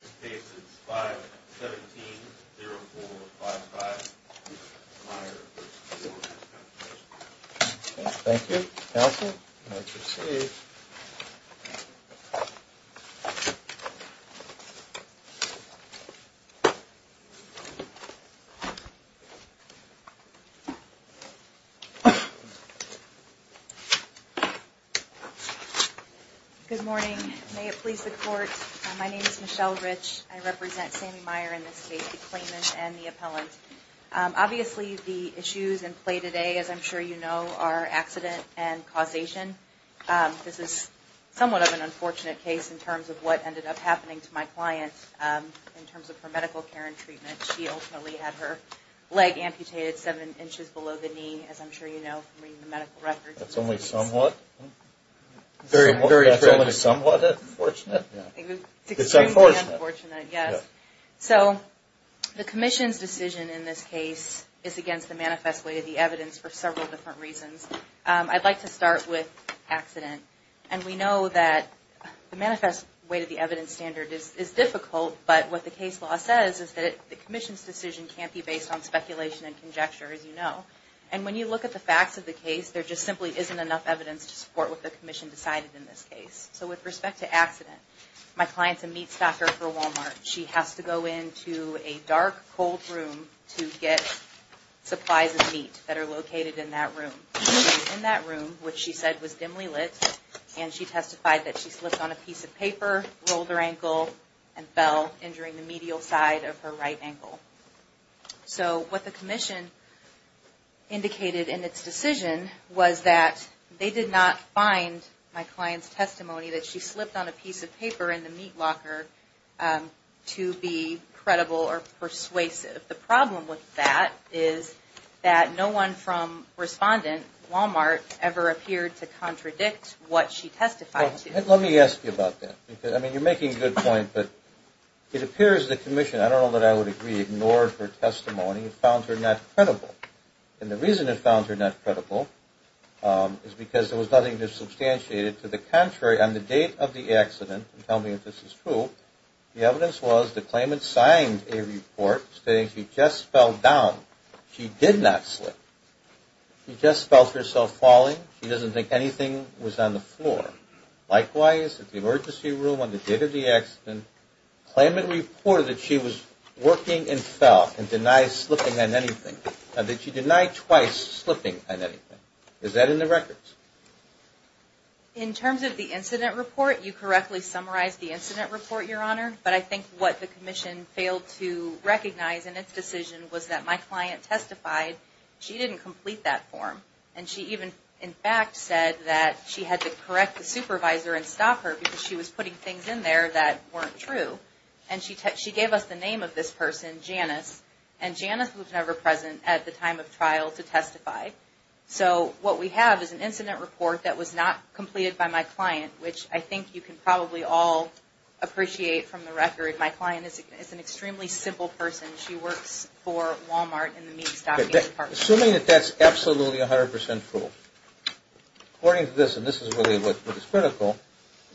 This case is 517-0455 Meyer v. Workers' Compensation Commission. Thank you. Counsel, you may proceed. Good morning. May it please the Court, my name is Michele Rich. I represent Sammy Meyer in this case, the claimant and the appellant. Obviously, the issues in play today, as I'm sure you know, is somewhat of an unfortunate case in terms of what ended up happening to my client in terms of her medical care and treatment. She ultimately had her leg amputated seven inches below the knee, as I'm sure you know from reading the medical records. That's only somewhat unfortunate? Extremely unfortunate, yes. So the Commission's decision in this case is against the manifest weight of the evidence for several different reasons. I'd like to start with accident. And we know that the manifest weight of the evidence standard is difficult, but what the case law says is that the Commission's decision can't be based on speculation and conjecture, as you know. And when you look at the facts of the case, there just simply isn't enough evidence to support what the Commission decided in this case. So with respect to accident, my client's a meat stocker for Walmart. She has to go into a dark, cold room to get supplies of meat that are located in that room. In that room, which she said was dimly lit, and she testified that she slipped on a piece of paper, rolled her ankle, and fell, injuring the medial side of her right ankle. So what the Commission indicated in its decision was that they did not find my client's testimony that she slipped on a piece of paper in the meat locker to be credible or persuasive. The problem with that is that no one from respondent, Walmart, ever appeared to contradict what she testified to. Let me ask you about that. I mean, you're making a good point, but it appears the Commission, I don't know that I would agree, ignored her testimony and found her not credible. And the reason it found her not credible is because there was nothing to substantiate it. To the contrary, on the date of the accident, tell me if this is true, the evidence was the claimant signed a report stating she just fell down. She did not slip. She just felt herself falling. She doesn't think anything was on the floor. Likewise, at the emergency room on the date of the accident, the claimant reported that she was working and fell and denied slipping on anything, and that she denied twice slipping on anything. Is that in the records? In terms of the incident report, you correctly summarized the incident report, Your Honor, but I think what the Commission failed to recognize in its decision was that my client testified she didn't complete that form. And she even, in fact, said that she had to correct the supervisor and stop her because she was putting things in there that weren't true. And she gave us the name of this person, Janice, and Janice was never present at the time of trial to testify. So what we have is an incident report that was not completed by my client, which I think you can probably all appreciate from the record. My client is an extremely simple person. She works for Walmart in the meat stocking department. Assuming that that's absolutely 100% true, according to this, and this is really what is critical,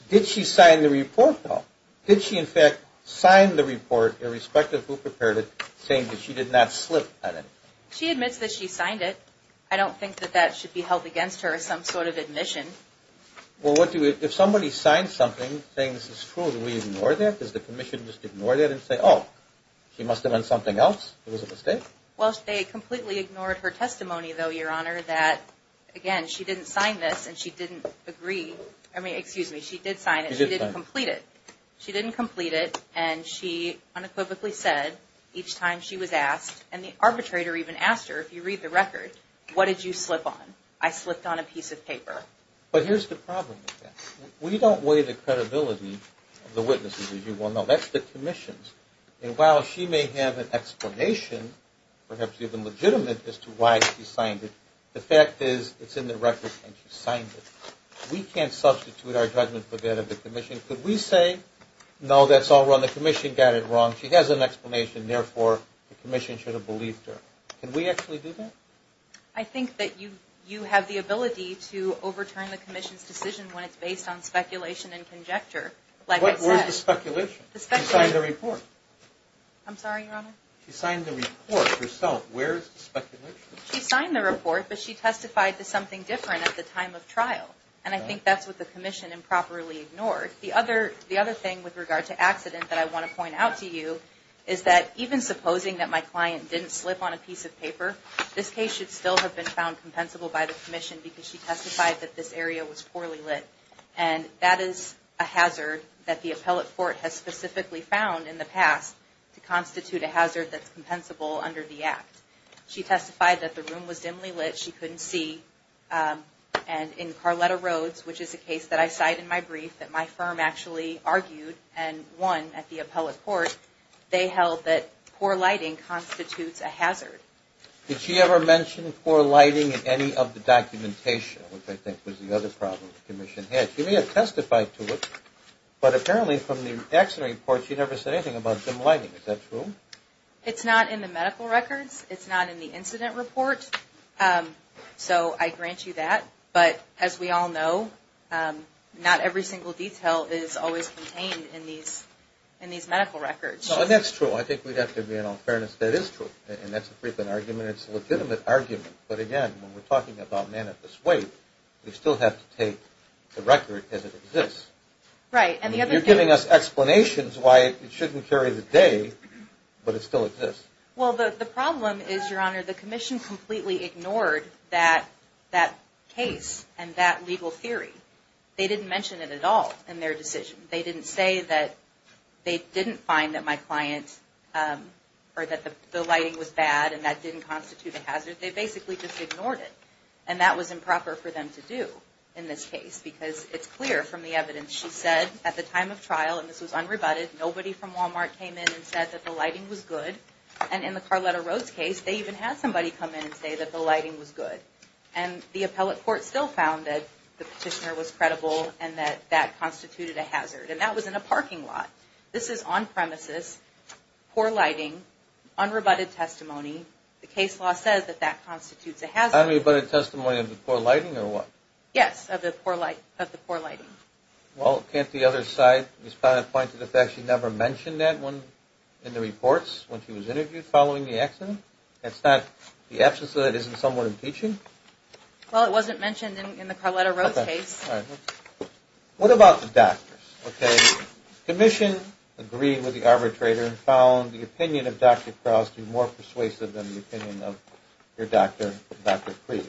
did she sign the report, though? Did she, in fact, sign the report irrespective of who prepared it, saying that she did not slip on anything? She admits that she signed it. I don't think that that should be held against her, some sort of admission. Well, if somebody signs something saying this is true, do we ignore that? Does the Commission just ignore that and say, oh, she must have meant something else, it was a mistake? Well, they completely ignored her testimony, though, Your Honor, that, again, she didn't sign this and she didn't agree. I mean, excuse me, she did sign it. She did sign it. And she unequivocally said, each time she was asked, and the arbitrator even asked her, if you read the record, what did you slip on? I slipped on a piece of paper. But here's the problem with that. We don't weigh the credibility of the witnesses, as you well know. That's the Commission's. And while she may have an explanation, perhaps even legitimate, as to why she signed it, the fact is it's in the record and she signed it. We can't substitute our judgment for that of the Commission. Could we say, no, that's all wrong, the Commission got it wrong, she has an explanation, therefore the Commission should have believed her. Can we actually do that? I think that you have the ability to overturn the Commission's decision when it's based on speculation and conjecture. But where's the speculation? She signed the report. I'm sorry, Your Honor? She signed the report herself. Where's the speculation? She signed the report, but she testified to something different at the time of The other thing with regard to accident that I want to point out to you is that even supposing that my client didn't slip on a piece of paper, this case should still have been found compensable by the Commission because she testified that this area was poorly lit. And that is a hazard that the appellate court has specifically found in the past to constitute a hazard that's compensable under the Act. She testified that the room was dimly lit, she couldn't see, and in Carletta actually argued and won at the appellate court, they held that poor lighting constitutes a hazard. Did she ever mention poor lighting in any of the documentation, which I think was the other problem the Commission had? She may have testified to it, but apparently from the accident report she never said anything about dim lighting. Is that true? It's not in the medical records. It's not in the incident report. So I grant you that. But as we all know, not every single detail is always contained in these medical records. That's true. I think we have to be in all fairness, that is true. And that's a frequent argument. It's a legitimate argument. But again, when we're talking about manifest weight, we still have to take the record as it exists. Right. You're giving us explanations why it shouldn't carry the day, but it still exists. Well, the problem is, Your Honor, the Commission completely ignored that case and that legal theory. They didn't mention it at all in their decision. They didn't say that they didn't find that my client, or that the lighting was bad and that didn't constitute a hazard. They basically just ignored it. And that was improper for them to do in this case, because it's clear from the evidence. She said at the time of trial, and this was unrebutted, nobody from Walmart came in and said that the lighting was good. And in the Carletta Roads case, they even had somebody come in and say that the lighting was good. And the appellate court still found that the petitioner was credible and that that constituted a hazard. And that was in a parking lot. This is on premises, poor lighting, unrebutted testimony. The case law says that that constitutes a hazard. Unrebutted testimony of the poor lighting or what? Yes, of the poor lighting. Well, can't the other side respond to the fact that she never mentioned that one in the reports when she was interviewed following the accident? That's not the absence of that isn't somewhat impeaching? Well, it wasn't mentioned in the Carletta Roads case. All right. What about the doctors? Okay. Commission agreed with the arbitrator and found the opinion of Dr. Krause to be more persuasive than the opinion of your doctor, Dr. Creed.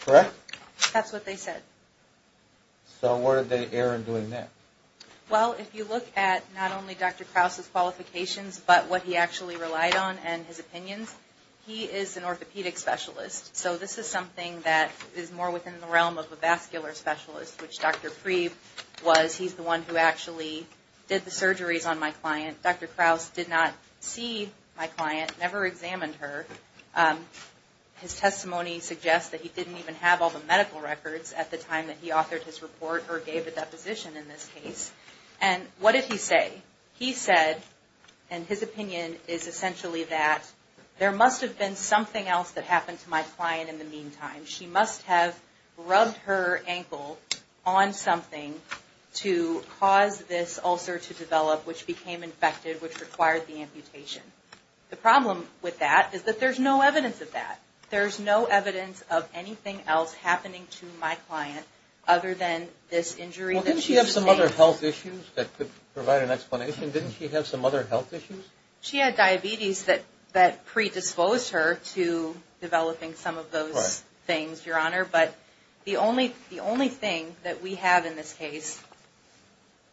Correct? That's what they said. So where did they err in doing that? Well, if you look at not only Dr. Krause's qualifications, but what he actually relied on and his opinions, he is an orthopedic specialist. So this is something that is more within the realm of a vascular specialist, which Dr. Creed was. He's the one who actually did the surgeries on my client. Dr. Krause did not see my client, never examined her. His testimony suggests that he didn't even have all the medical records at the time that he authored his report or gave a deposition in this case. And what did he say? He said, and his opinion is essentially that there must have been something else that happened to my client in the meantime. She must have rubbed her ankle on something to cause this ulcer to develop, which became infected, which required the amputation. The problem with that is that there's no evidence of that. There's no evidence of anything else happening to my client other than this injury that Well, didn't she have some other health issues that could provide an explanation? Didn't she have some other health issues? She had diabetes that predisposed her to developing some of those things, Your Honor. But the only thing that we have in this case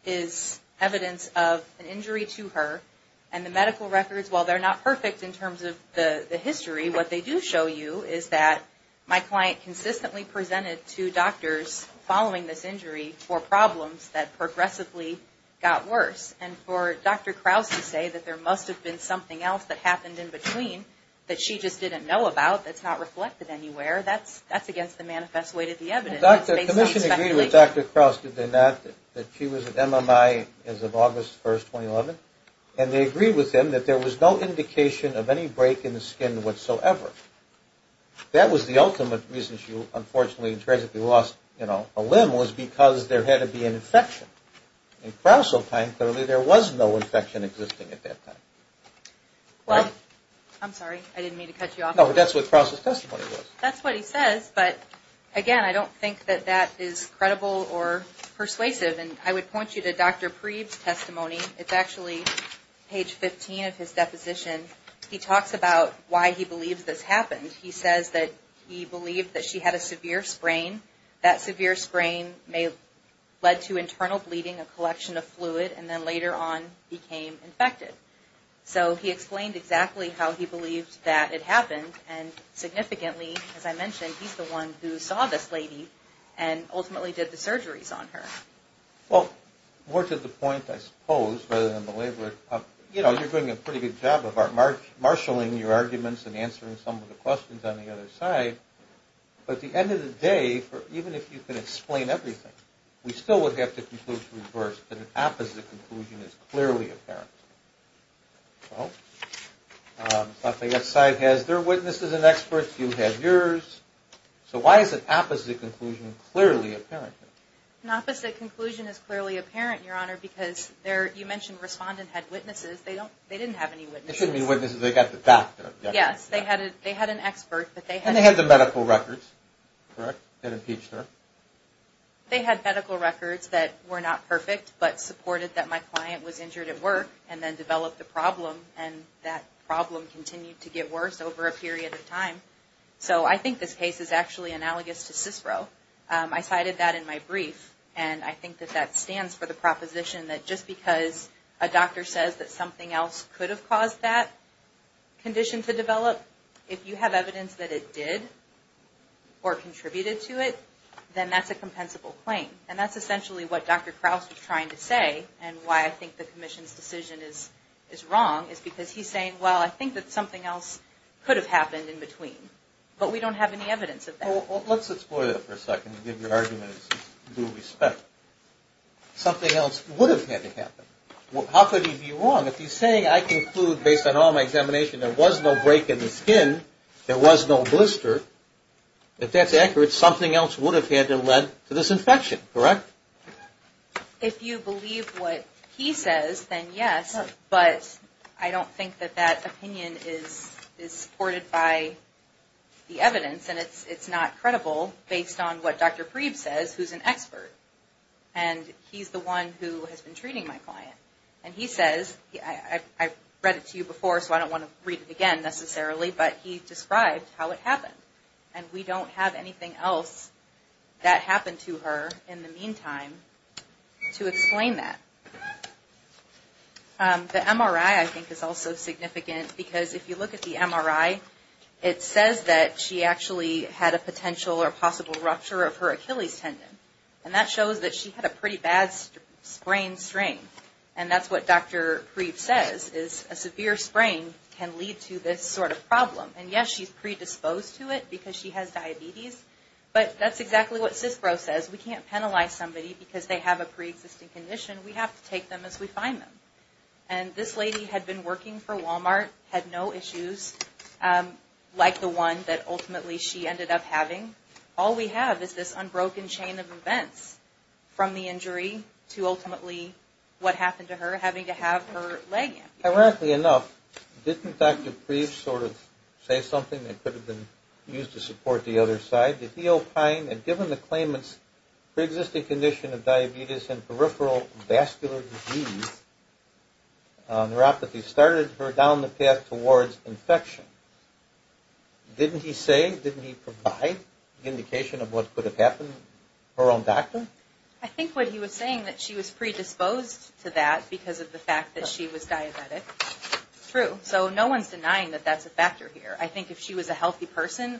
is evidence of an injury to her. And the medical records, while they're not perfect in terms of the consistently presented to doctors following this injury for problems that progressively got worse. And for Dr. Krause to say that there must have been something else that happened in between that she just didn't know about that's not reflected anywhere, that's against the manifest way to the evidence. Commission agreed with Dr. Krause, did they not, that she was at MMI as of August 1st, 2011. And they agreed with him that there was no indication of any break in the skin whatsoever. That was the ultimate reason she unfortunately and tragically lost a limb was because there had to be an infection. In Krause's time, clearly there was no infection existing at that time. Well, I'm sorry. I didn't mean to cut you off. No, but that's what Krause's testimony was. That's what he says. But again, I don't think that that is credible or persuasive. And I would point you to Dr. Preeb's testimony. It's actually page 15 of his deposition. He talks about why he believes this happened. He says that he believed that she had a severe sprain. That severe sprain may have led to internal bleeding, a collection of fluid, and then later on became infected. So he explained exactly how he believed that it happened. And significantly, as I mentioned, he's the one who saw this lady and ultimately did the surgeries on her. Well, more to the point, I suppose, rather than belabor it, you know, you're doing a pretty good job of marshaling your arguments and answering some of the questions on the other side. But at the end of the day, even if you can explain everything, we still would have to conclude to reverse that an opposite conclusion is clearly apparent. Well, Lafayette's side has their witnesses and experts. You have yours. So why is an opposite conclusion clearly apparent? An opposite conclusion is clearly apparent, Your Honor, because you mentioned respondent had witnesses. They didn't have any witnesses. They shouldn't have any witnesses. They got the doctor. Yes. They had an expert. And they had the medical records, correct, that impeached her? They had medical records that were not perfect but supported that my client was injured at work and then developed a problem. And that problem continued to get worse over a period of time. So I think this case is actually analogous to CISPRO. I cited that in my brief. And I think that that stands for the proposition that just because a doctor says that something else could have caused that condition to develop, if you have evidence that it did or contributed to it, then that's a compensable claim. And that's essentially what Dr. Krause was trying to say and why I think the Commission's decision is wrong is because he's saying, well, I think that something else could have happened in between. But we don't have any evidence of that. Well, let's explore that for a second and give your argument due respect. Something else would have had to happen. How could he be wrong? If he's saying, I conclude, based on all my examination, there was no break in the skin, there was no blister, if that's accurate, something else would have had to have led to this infection, correct? If you believe what he says, then yes. But I don't think that that opinion is supported by the evidence and it's not credible based on what Dr. Preeb says, who's an expert. And he's the one who has been treating my client. And he says, I read it to you before, so I don't want to read it again necessarily, but he described how it happened. And we don't have anything else that happened to her in the meantime to explain that. The MRI, I think, is also significant because if you look at the MRI, it says that she actually had a potential or possible rupture of her Achilles tendon. And that shows that she had a pretty bad sprain strain. And that's what Dr. Preeb says, is a severe sprain can lead to this sort of problem. And yes, she's predisposed to it because she has diabetes, but that's exactly what CISPRO says. We can't penalize somebody because they have a preexisting condition. We have to take them as we find them. And this lady had been working for Walmart, had no issues like the one that ultimately she ended up having. All we have is this unbroken chain of events from the injury to ultimately what happened to her having to have her leg amputated. Ironically enough, didn't Dr. Preeb sort of say something that could have been used to support the other side? Did he opine that given the claimants preexisting condition of diabetes and peripheral vascular disease, neuropathy started her down the path towards infection? Didn't he say, didn't he provide indication of what could have happened? Her own doctor? I think what he was saying, that she was predisposed to that because of the fact that she was diabetic. True. So no one's denying that that's a factor here. I think if she was a healthy person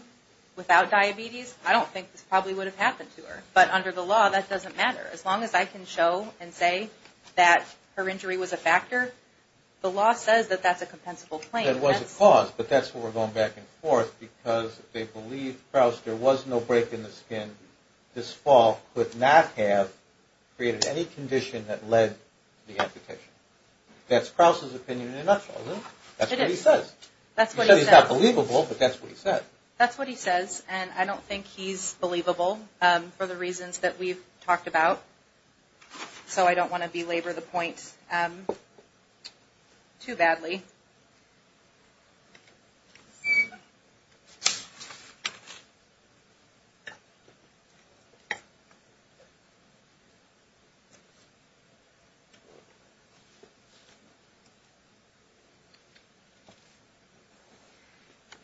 without diabetes, I don't think this probably would have happened to her. But under the law, that doesn't matter. As long as I can show and say that her injury was a factor, the law says that that's a compensable claim. It was a cause, but that's where we're going back and forth because they believe, Krauss, there was no break in the skin. This fall could not have created any condition that led to the amputation. That's Krauss' opinion in a nutshell, isn't it? That's what he says. That's what he says. He says he's not believable, but that's what he says. That's what he says, and I don't think he's believable for the reasons that we've talked about. So I don't want to belabor the point too badly.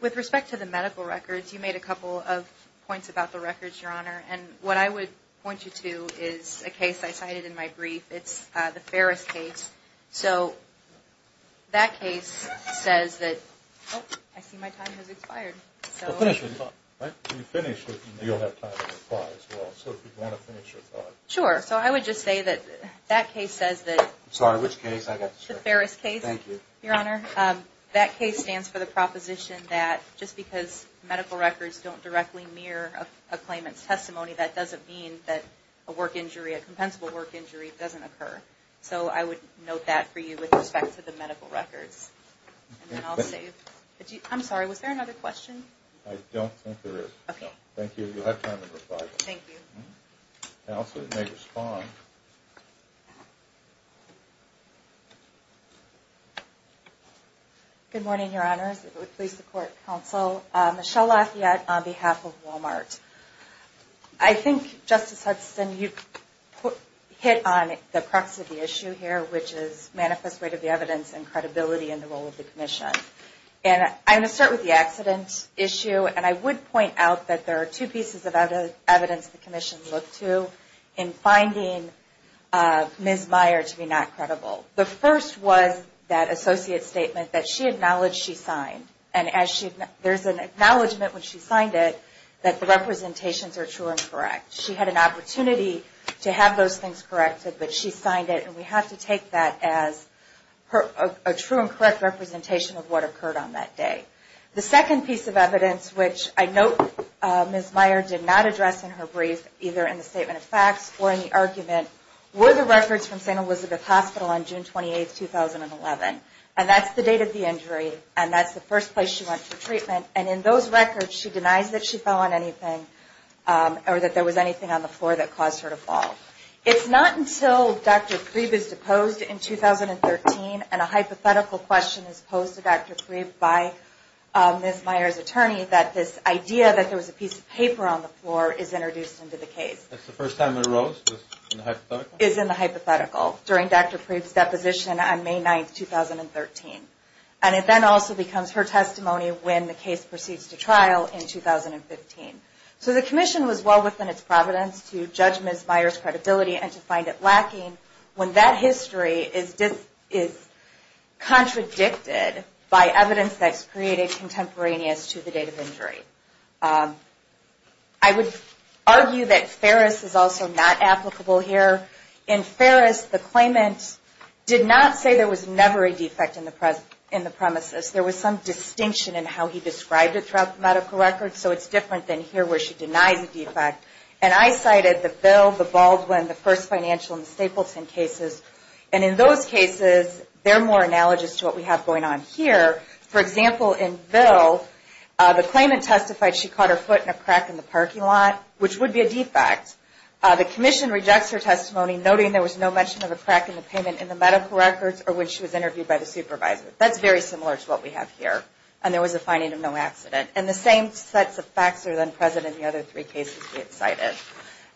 With respect to the medical records, you made a couple of points about the records, Your Honor, and what I would point you to is a case I cited in my case says that, oh, I see my time has expired. Well, finish your thought, right? When you finish, you'll have time to reply as well. So if you want to finish your thought. Sure. So I would just say that that case says that Sorry, which case? The Ferris case. Thank you. Your Honor, that case stands for the proposition that just because medical records don't directly mirror a claimant's testimony, that doesn't mean that a work injury, a compensable work injury doesn't occur. So I would note that for you with respect to the medical records. I'm sorry, was there another question? I don't think there is. Okay. Thank you. You'll have time to reply. Thank you. Counsel may respond. Good morning, Your Honors. Please support counsel. Michelle Lafayette on behalf of Walmart. I think, Justice Hudson, you hit on the crux of the issue here, which is manifest rate of the evidence and credibility in the role of the commission. And I'm going to start with the accident issue. And I would point out that there are two pieces of evidence the commission looked to in finding Ms. Meyer to be not credible. The first was that associate statement that she acknowledged she signed. And there's an acknowledgement when she signed it that the representations are true and correct. She had an obligation to take that as a true and correct representation of what occurred on that day. The second piece of evidence, which I note Ms. Meyer did not address in her brief, either in the statement of facts or in the argument, were the records from St. Elizabeth Hospital on June 28, 2011. And that's the date of the injury. And that's the first place she went for treatment. And in those records she denies that she fell on anything or that there was anything on the floor that caused her to fall. It's not until Dr. Preeb is deposed in 2013 and a hypothetical question is posed to Dr. Preeb by Ms. Meyer's attorney that this idea that there was a piece of paper on the floor is introduced into the case. That's the first time it arose, in the hypothetical? Is in the hypothetical, during Dr. Preeb's deposition on May 9, 2013. And it then also becomes her testimony when the case proceeds to trial in 2015. So the commission was well within its providence to judge Ms. Meyer's testimony. And that history is contradicted by evidence that's created contemporaneous to the date of injury. I would argue that Ferris is also not applicable here. In Ferris, the claimant did not say there was never a defect in the premises. There was some distinction in how he described it throughout the medical record. So it's different than here where she denies a defect. And I cited the Bill, the Baldwin, the first financial and the Stapleton cases. And in those cases, they're more analogous to what we have going on here. For example, in Bill, the claimant testified she caught her foot in a crack in the parking lot, which would be a defect. The commission rejects her testimony noting there was no mention of a crack in the payment in the medical records or when she was interviewed by the supervisor. That's very similar to what we have here. And there was a finding of no accident. And the same sets of facts are then present in the other three cases we have cited.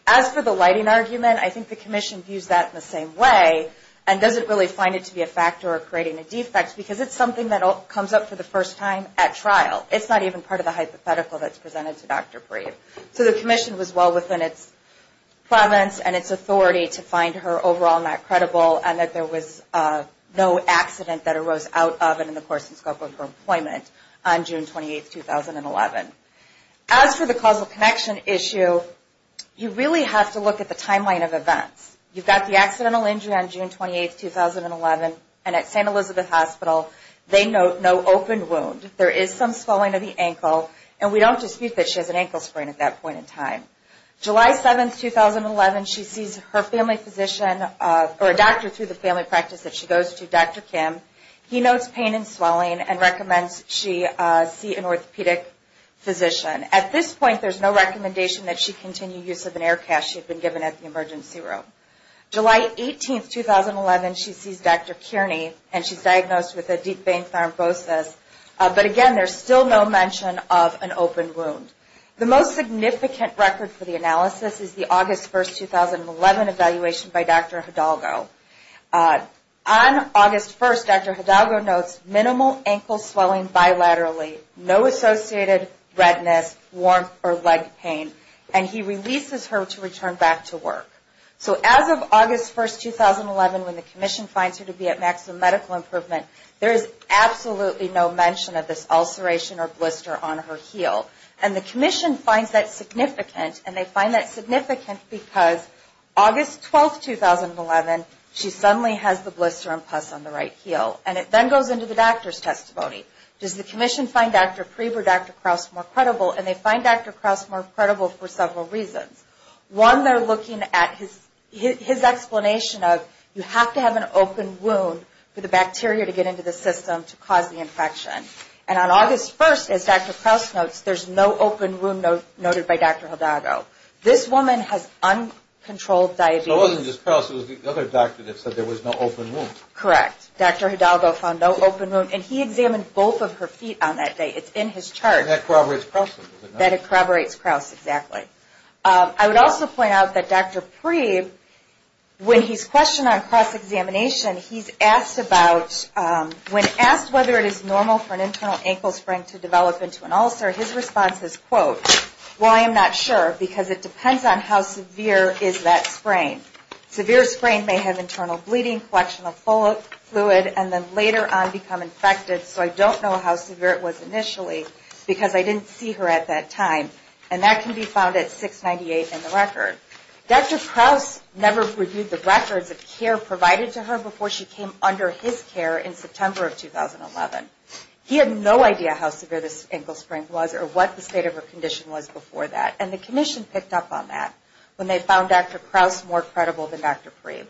As for the lighting argument, I think the commission views that in the same way and doesn't really find it to be a factor of creating a defect because it's something that comes up for the first time at trial. It's not even part of the hypothetical that's presented to Dr. Breve. So the commission was well within its prevalence and its authority to find her overall not credible and that there was no accident that arose out of and in the course and scope of her employment on June 28, 2011. As for the causal connection issue, you really have to look at the timeline of events. You've got the accidental injury on June 28, 2011 and at St. Elizabeth Hospital, they note no open wound. There is some swelling of the ankle and we don't dispute that she has an ankle sprain at that point in time. July 7, 2011, she sees her family physician or a doctor through the family practice that she goes to, Dr. Kim. He notes pain and swelling and recommends she see an orthopedic physician. At this point, there's no recommendation that she continue use of an air cast she had been given at the emergency room. July 18, 2011, she sees Dr. Kearney and she's diagnosed with a deep vein thrombosis, but again, there's still no mention of an open wound. The most significant record for the analysis is the August 1, 2011 evaluation by Dr. Hidalgo. On August 1, Dr. Hidalgo notes minimal ankle swelling bilaterally, no associated redness, warmth, or leg pain, and he releases her to return back to work. So as of August 1, 2011, when the commission finds her to be at maximum medical improvement, there is absolutely no mention of this ulceration or blister on her heel. And the commission finds that significant and they find that significant because August 12, 2011, she suddenly has the blister and that goes into the doctor's testimony. Does the commission find Dr. Preber, Dr. Krause more credible? And they find Dr. Krause more credible for several reasons. One, they're looking at his explanation of you have to have an open wound for the bacteria to get into the system to cause the infection. And on August 1, as Dr. Krause notes, there's no open wound noted by Dr. Hidalgo. This woman has uncontrolled diabetes. So it wasn't just Krause, it was the other doctor that said there was no open wound. And he examined both of her feet on that day. It's in his chart. That corroborates Krause. That corroborates Krause, exactly. I would also point out that Dr. Preber, when he's questioned on cross-examination, he's asked about, when asked whether it is normal for an internal ankle sprain to develop into an ulcer, his response is, quote, well, I'm not sure because it depends on how severe is that sprain. Severe sprain may have internal bleeding, collection of fluid, and then later on become infected. So I don't know how severe it was initially because I didn't see her at that time. And that can be found at 698 in the record. Dr. Krause never reviewed the records of care provided to her before she came under his care in September of 2011. He had no idea how severe this ankle sprain was or what the state of her condition was before that. And the commission picked up on that when they found Dr. Krause more credible than Dr. Preber.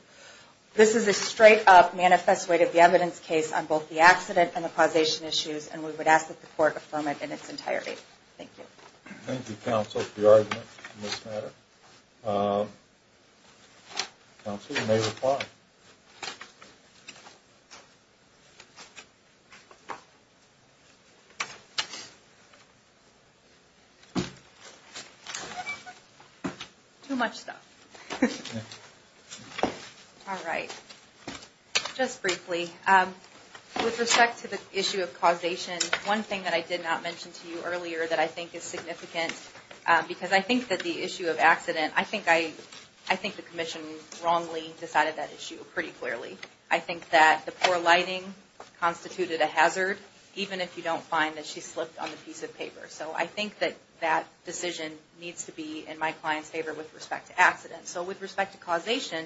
This is a straight-up, manifest way to get the evidence case on both the accident and the causation issues, and we would ask that the court affirm it in its entirety. Thank you. Thank you, counsel, for your argument on this matter. Counsel, you may reply. Too much stuff. All right. Just briefly, with respect to the issue of causation, one thing that I did not mention to you earlier that I think is significant because I think that the issue of accident, I think the commission wrongly decided that issue pretty clearly. I think that the poor lighting constituted a hazard, even if you don't find that she slipped on the piece of paper. So I think that that decision needs to be in my client's favor with respect to accident. So with respect to causation,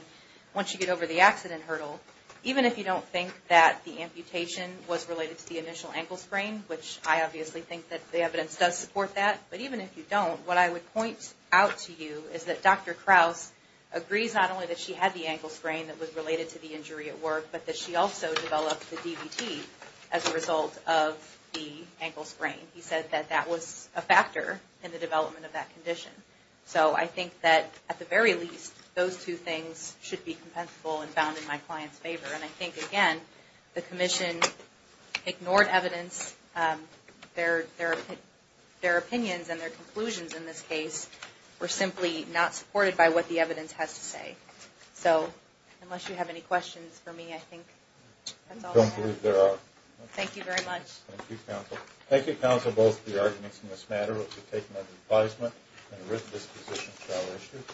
once you get over the accident hurdle, even if you don't think that the amputation was related to the initial ankle sprain, which I obviously think that the evidence does support that, but even if you don't, what I would point out to you is that Dr. Krause agrees not only that she had the ankle sprain that was related to the injury at work, but that she also developed the DVT as a result of the ankle sprain. He said that that was a factor in the development of that condition. So I think that, at the very least, those two things should be compensable and found in my client's favor. And I think, again, the their opinions and their conclusions in this case were simply not supported by what the evidence has to say. So unless you have any questions for me, I think that's all I have. I don't believe there are. Thank you very much. Thank you, counsel. Thank you, counsel, both for your arguments in this matter. We'll be taking them to advisement and a written disposition shall issue.